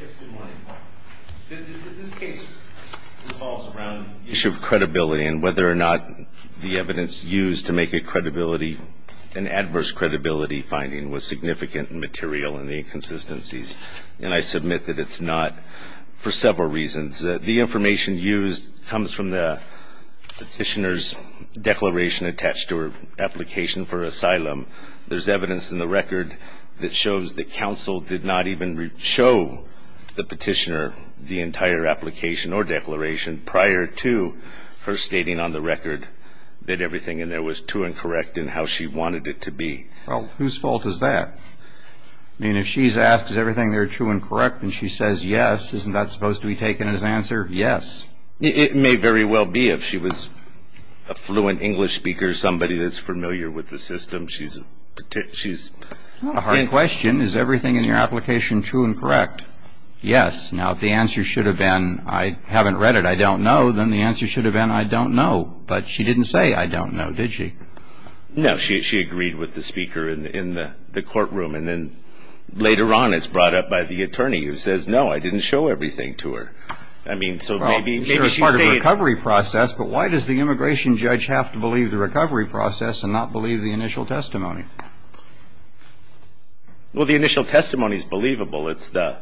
Yes, good morning. This case revolves around the issue of credibility and whether or not the evidence used to make an adverse credibility finding was significant and material in the inconsistencies, and I submit that it's not for several reasons. The information used comes from the petitioner's declaration attached to her application for asylum. There's evidence in the record that shows that counsel did not even show the petitioner the entire application or declaration prior to her stating on the record that everything in there was true and correct in how she wanted it to be. Well, whose fault is that? I mean, if she's asked, is everything there true and correct, and she says yes, isn't that supposed to be taken as answer? Yes. It may very well be if she was a fluent English speaker, somebody that's familiar with the system. She's a hard question. Is everything in your application true and correct? Yes. Now, if the answer should have been I haven't read it, I don't know, then the answer should have been I don't know. But she didn't say I don't know, did she? No, she agreed with the speaker in the courtroom, and then later on it's brought up by the attorney who says, no, I didn't show everything to her. I mean, so maybe she's saying... Well, sure, it's part of the recovery process, but why does the immigration judge have to believe the recovery process and not believe the initial testimony? Well, the initial testimony is believable. It's the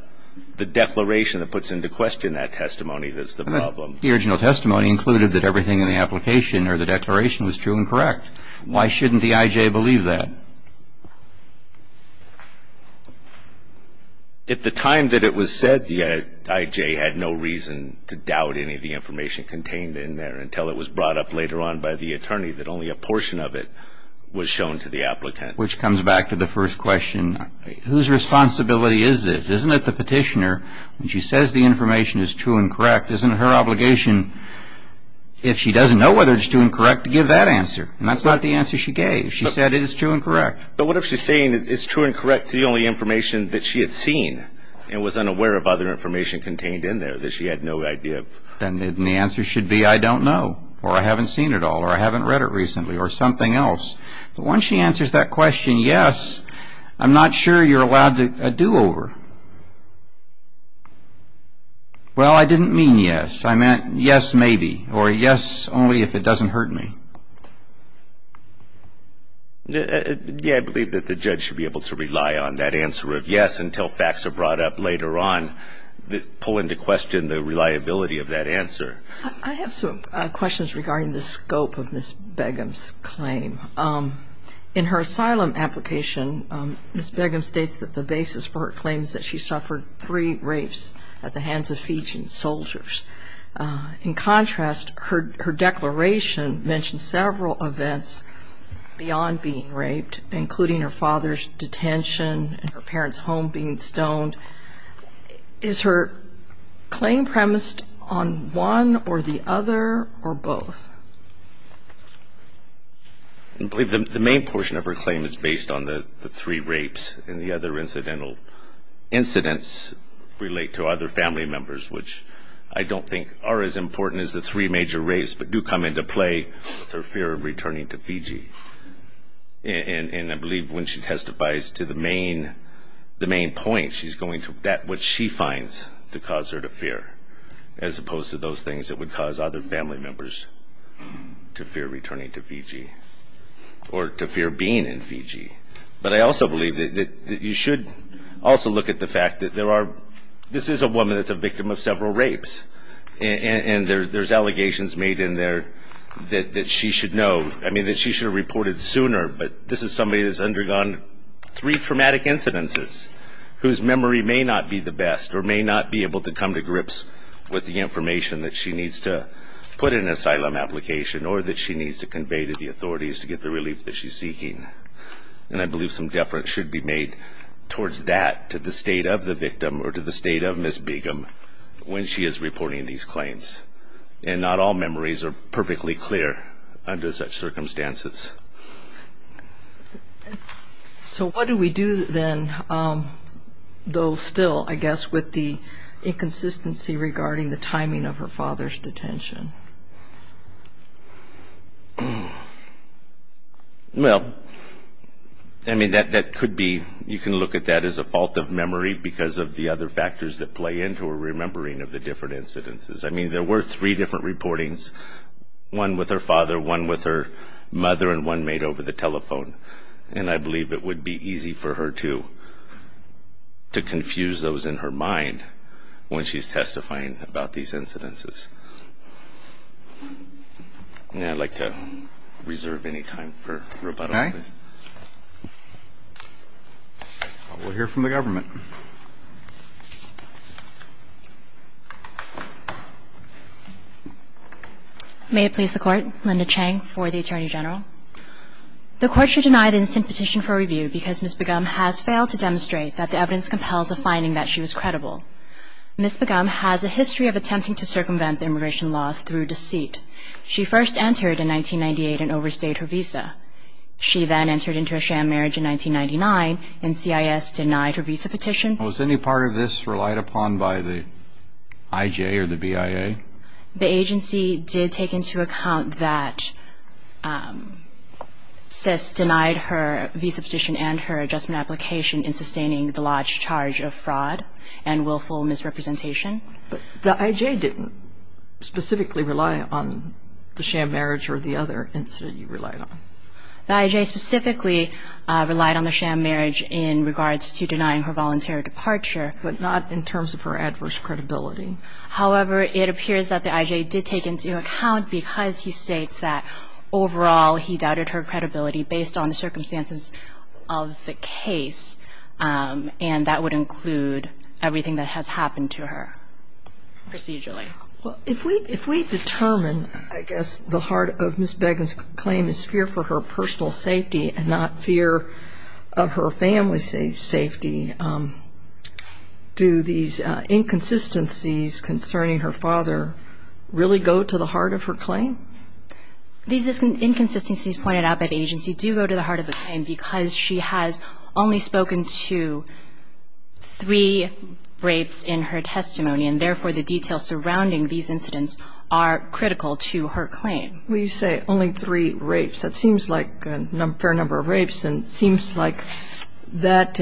declaration that puts into question that testimony that's the problem. The original testimony included that everything in the application or the declaration was true and correct. Why shouldn't the IJ believe that? At the time that it was said, the IJ had no reason to doubt any of the information contained in there until it was brought up later on by the attorney that only a portion of it was shown to the applicant. Which comes back to the first question, whose responsibility is this? When she says the information is true and correct, isn't it her obligation, if she doesn't know whether it's true and correct, to give that answer? And that's not the answer she gave. She said it is true and correct. But what if she's saying it's true and correct to the only information that she had seen and was unaware of other information contained in there that she had no idea of? Then the answer should be I don't know, or I haven't seen it all, or I haven't read it recently, or something else. But once she answers that question, yes, I'm not sure you're allowed a do-over. Well, I didn't mean yes. I meant yes, maybe, or yes, only if it doesn't hurt me. Yeah, I believe that the judge should be able to rely on that answer of yes until facts are brought up later on, pull into question the reliability of that answer. I have some questions regarding the scope of Ms. Begum's claim. In her asylum application, Ms. Begum states that the basis for her claim is that she suffered three rapes at the hands of Fijian soldiers. In contrast, her declaration mentions several events beyond being raped, including her father's detention and her parents' home being stoned. Is her claim premised on one or the other or both? I believe the main portion of her claim is based on the three rapes and the other incidental incidents relate to other family members, which I don't think are as important as the three major rapes, but do come into play with her fear of returning to Fiji. And I believe when she testifies to the main point, she's going to bet what she finds to cause her to fear, as opposed to those things that would cause other family members to fear returning to Fiji or to fear being in Fiji. But I also believe that you should also look at the fact that this is a woman that's a victim of several rapes, and there's allegations made in there that she should know. I mean, that she should have reported sooner, but this is somebody that's undergone three traumatic incidences, whose memory may not be the best or may not be able to come to grips with the information that she needs to put in an asylum application or that she needs to convey to the authorities to get the relief that she's seeking. And I believe some deference should be made towards that to the state of the victim or to the state of Ms. Begum when she is reporting these claims. And not all memories are perfectly clear under such circumstances. So what do we do then, though still, I guess, with the inconsistency regarding the timing of her father's detention? Well, I mean, that could be, you can look at that as a fault of memory because of the other factors that play into her remembering of the different incidences. I mean, there were three different reportings, one with her father, one with her mother, and one made over the telephone. And I believe it would be easy for her to confuse those in her mind when she's testifying about these incidences. And I'd like to reserve any time for rebuttal. Okay. We'll hear from the government. May it please the Court. Linda Chang for the Attorney General. The Court should deny the instant petition for review because Ms. Begum has failed to demonstrate that the evidence compels a finding that she was credible. Ms. Begum has a history of attempting to circumvent immigration laws through deceit. She first entered in 1998 and overstayed her visa. She then entered into a sham marriage in 1999 and CIS denied her visa petition. Was any part of this relied upon by the IJ or the BIA? The agency did take into account that CIS denied her visa petition and her adjustment application in sustaining the large charge of fraud and willful misrepresentation. But the IJ didn't specifically rely on the sham marriage or the other incident you relied on? The IJ specifically relied on the sham marriage in regards to denying her voluntary departure. But not in terms of her adverse credibility? However, it appears that the IJ did take into account because he states that, overall, he doubted her credibility based on the circumstances of the case. And that would include everything that has happened to her procedurally. Well, if we determine, I guess, the heart of Ms. Begum's claim is fear for her personal safety and not fear of her family's safety, do these inconsistencies concerning her father really go to the heart of her claim? These inconsistencies pointed out by the agency do go to the heart of the claim because she has only spoken to three rapes in her testimony, and therefore the details surrounding these incidents are critical to her claim. When you say only three rapes, that seems like a fair number of rapes, and it seems like that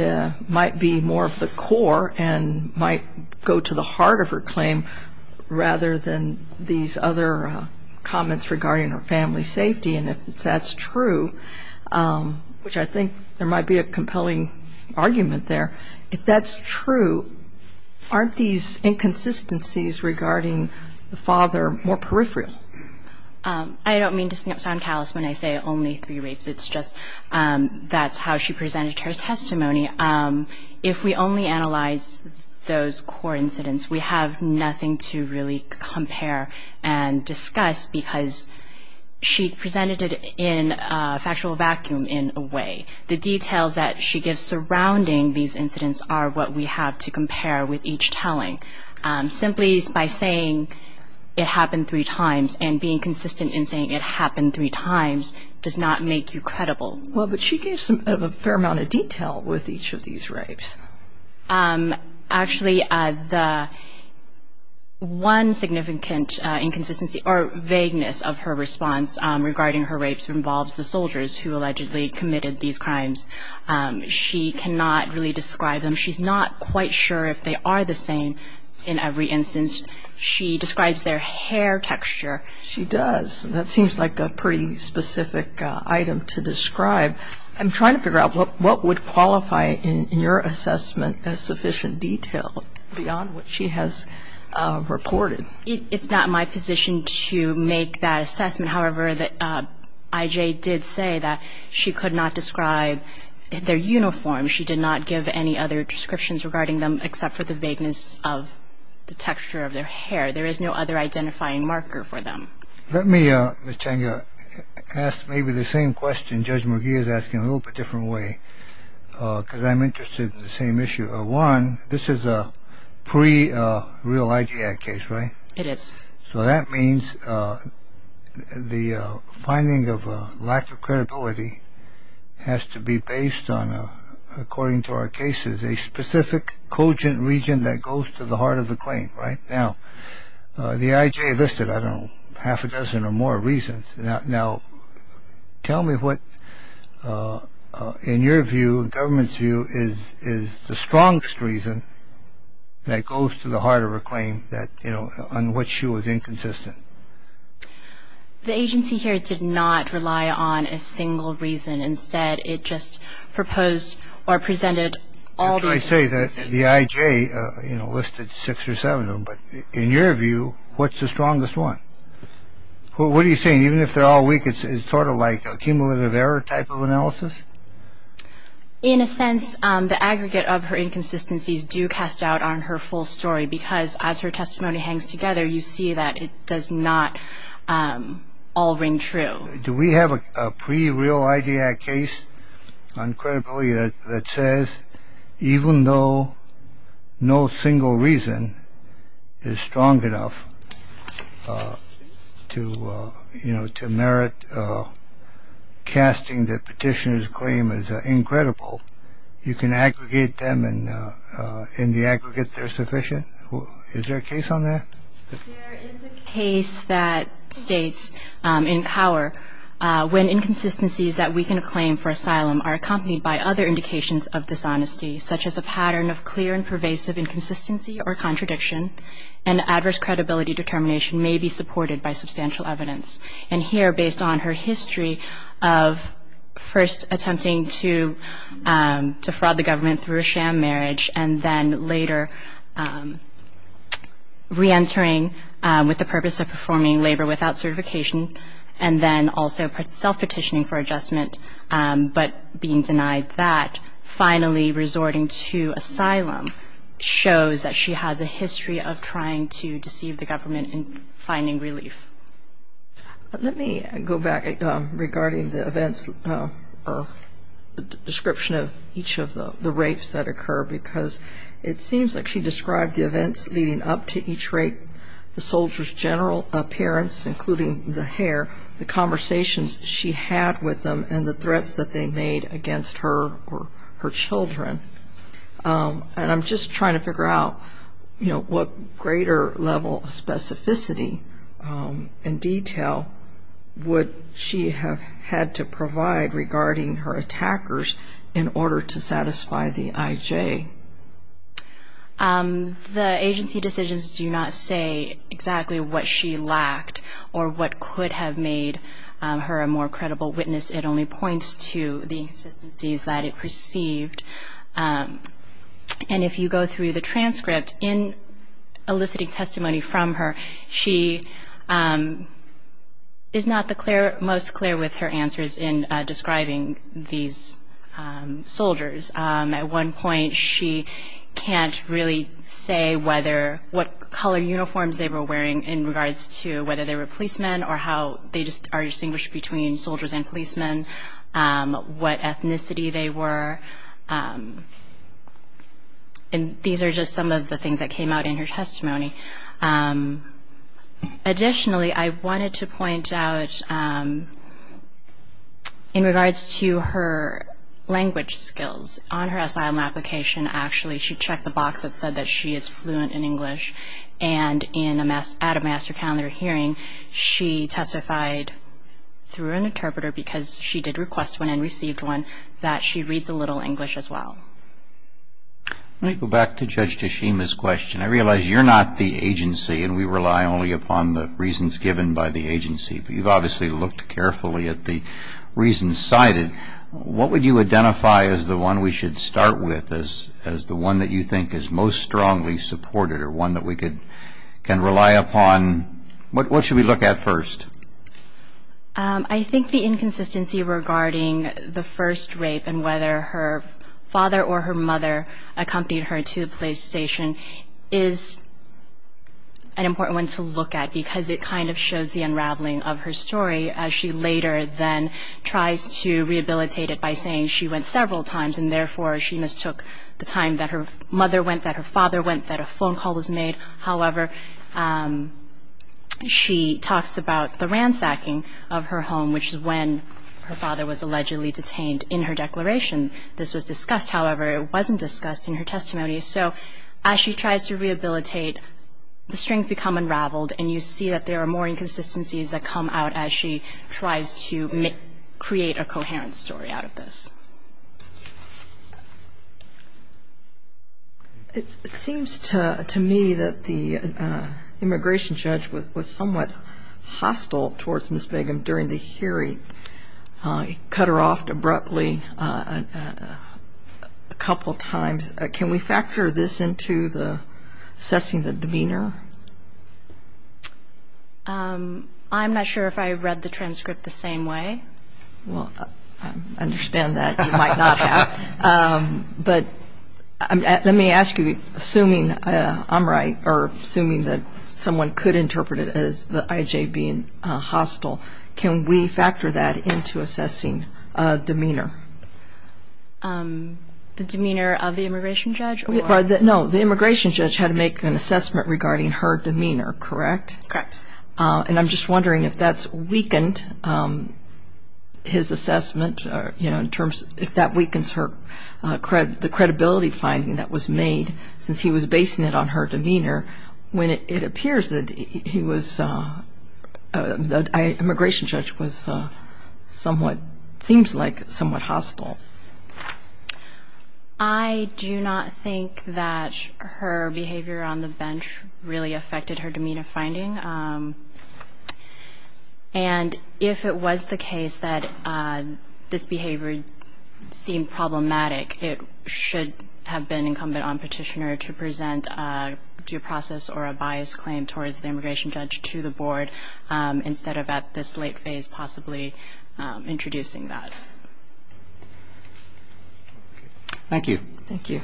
might be more of the core and might go to the heart of her claim rather than these other comments regarding her family's safety. And if that's true, which I think there might be a compelling argument there, if that's true, aren't these inconsistencies regarding the father more peripheral? I don't mean to sound callous when I say only three rapes. It's just that's how she presented her testimony. If we only analyze those core incidents, we have nothing to really compare and discuss because she presented it in a factual vacuum in a way. The details that she gives surrounding these incidents are what we have to compare with each telling. Simply by saying it happened three times and being consistent in saying it happened three times does not make you credible. Well, but she gave a fair amount of detail with each of these rapes. Actually, the one significant inconsistency or vagueness of her response regarding her rapes involves the soldiers who allegedly committed these crimes. She cannot really describe them. She's not quite sure if they are the same in every instance. She describes their hair texture. She does. That seems like a pretty specific item to describe. I'm trying to figure out what would qualify in your assessment as sufficient detail beyond what she has reported. It's not my position to make that assessment. However, I.J. did say that she could not describe their uniform. She did not give any other descriptions regarding them except for the vagueness of the texture of their hair. There is no other identifying marker for them. Let me, Ms. Changa, ask maybe the same question Judge McGee is asking in a little bit different way because I'm interested in the same issue. One, this is a pre-Real ID Act case, right? It is. So that means the finding of lack of credibility has to be based on, according to our cases, a specific cogent region that goes to the heart of the claim, right? Now, the I.J. listed, I don't know, half a dozen or more reasons. Now, tell me what, in your view, government's view, is the strongest reason that goes to the heart of a claim that, you know, on which she was inconsistent. The agency here did not rely on a single reason. Instead, it just proposed or presented all these reasons. I say that the I.J. listed six or seven of them, but in your view, what's the strongest one? What are you saying? Even if they're all weak, it's sort of like a cumulative error type of analysis? In a sense, the aggregate of her inconsistencies do cast doubt on her full story because as her testimony hangs together, you see that it does not all ring true. Do we have a pre-real I.J. case on credibility that says, even though no single reason is strong enough to, you know, to merit casting the petitioner's claim as incredible, you can aggregate them in the aggregate they're sufficient? Is there a case on that? There is a case that states in Cower, when inconsistencies that weaken a claim for asylum are accompanied by other indications of dishonesty, such as a pattern of clear and pervasive inconsistency or contradiction, and adverse credibility determination may be supported by substantial evidence. And here, based on her history of first attempting to fraud the government through a sham marriage and then later reentering with the purpose of performing labor without certification and then also self-petitioning for adjustment but being denied that, finally resorting to asylum shows that she has a history of trying to deceive the government in finding relief. Let me go back regarding the events or description of each of the rapes that occur because it seems like she described the events leading up to each rape, the soldier's general appearance, including the hair, the conversations she had with them and the threats that they made against her or her children. And I'm just trying to figure out, you know, what greater level of specificity and detail would she have had to provide regarding her attackers in order to satisfy the IJ? The agency decisions do not say exactly what she lacked or what could have made her a more credible witness. It only points to the inconsistencies that it perceived. And if you go through the transcript, in eliciting testimony from her, she is not the most clear with her answers in describing these soldiers. At one point she can't really say what color uniforms they were wearing in regards to whether they were policemen or how they are distinguished between soldiers and policemen, what ethnicity they were. And these are just some of the things that came out in her testimony. Additionally, I wanted to point out in regards to her language skills. On her asylum application, actually, she checked the box that said that she is fluent in English. And at a master calendar hearing, she testified through an interpreter, because she did request one and received one, that she reads a little English as well. Let me go back to Judge Tashima's question. I realize you're not the agency and we rely only upon the reasons given by the agency, but you've obviously looked carefully at the reasons cited. What would you identify as the one we should start with, as the one that you think is most strongly supported or one that we can rely upon? What should we look at first? I think the inconsistency regarding the first rape and whether her father or her mother accompanied her to the police station is an important one to look at, because it kind of shows the unraveling of her story, as she later then tries to rehabilitate it by saying she went several times and therefore she mistook the time that her mother went, that her father went, that a phone call was made. However, she talks about the ransacking of her home, which is when her father was allegedly detained in her declaration. This was discussed, however, it wasn't discussed in her testimony. So as she tries to rehabilitate, the strings become unraveled and you see that there are more inconsistencies that come out as she tries to create a coherent story out of this. It seems to me that the immigration judge was somewhat hostile towards Ms. Begum during the hearing. He cut her off abruptly a couple times. Can we factor this into assessing the demeanor? I'm not sure if I read the transcript the same way. Well, I understand that. You might not have. But let me ask you, assuming I'm right, or assuming that someone could interpret it as the IJ being hostile, can we factor that into assessing demeanor? The demeanor of the immigration judge? No, the immigration judge had to make an assessment regarding her demeanor, correct? Correct. And I'm just wondering if that's weakened his assessment, you know, in terms of if that weakens the credibility finding that was made since he was basing it on her demeanor when it appears that he was, the immigration judge was somewhat, seems like somewhat hostile. I do not think that her behavior on the bench really affected her demeanor finding. And if it was the case that this behavior seemed problematic, it should have been incumbent on Petitioner to present a due process or a biased claim towards the immigration judge to the board instead of at this late phase possibly introducing that. Thank you. Thank you.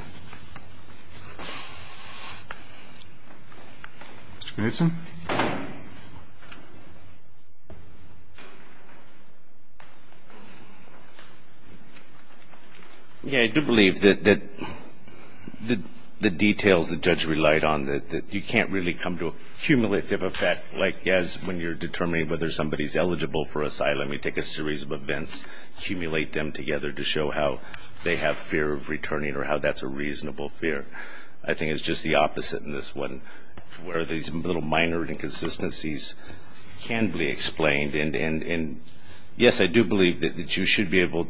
Mr. Knutson. Yeah, I do believe that the details the judge relied on, that you can't really come to a cumulative effect like as when you're determining whether somebody's eligible for asylum, you take a series of events, accumulate them together to show how they have fear of returning or how that's a reasonable fear. I think it's just the opposite in this one, where these little minor inconsistencies can be explained. And, yes, I do believe that you should be able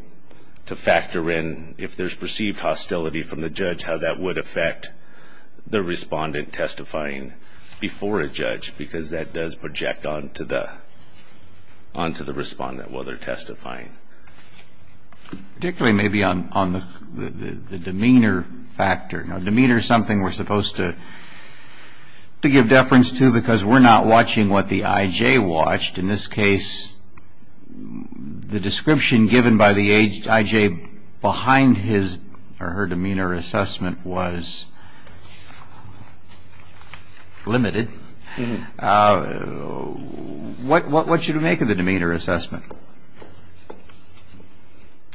to factor in, if there's perceived hostility from the judge, how that would affect the respondent testifying before a judge because that does project onto the respondent while they're testifying. Particularly maybe on the demeanor factor. Now, demeanor is something we're supposed to give deference to because we're not watching what the I.J. watched. In this case, the description given by the I.J. behind his or her demeanor assessment was limited. What should we make of the demeanor assessment?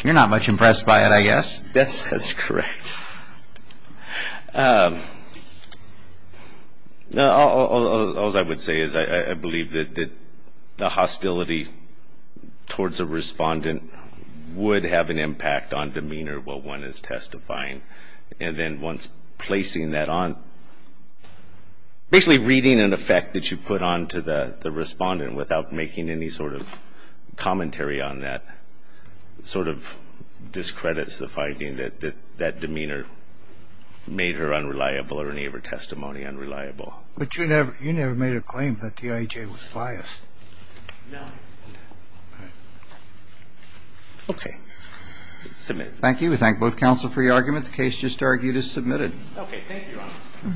You're not much impressed by it, I guess. Yes, that's correct. All I would say is I believe that the hostility towards a respondent would have an impact on demeanor while one is testifying. And then once placing that on, basically reading an effect that you put onto the respondent without making any sort of commentary on that sort of discredits the finding that that demeanor made her unreliable or any of her testimony unreliable. But you never made a claim that the I.J. was biased. No. Okay. Submit. Thank you. We thank both counsel for your argument. The case just argued is submitted. Okay. Thank you, Your Honor.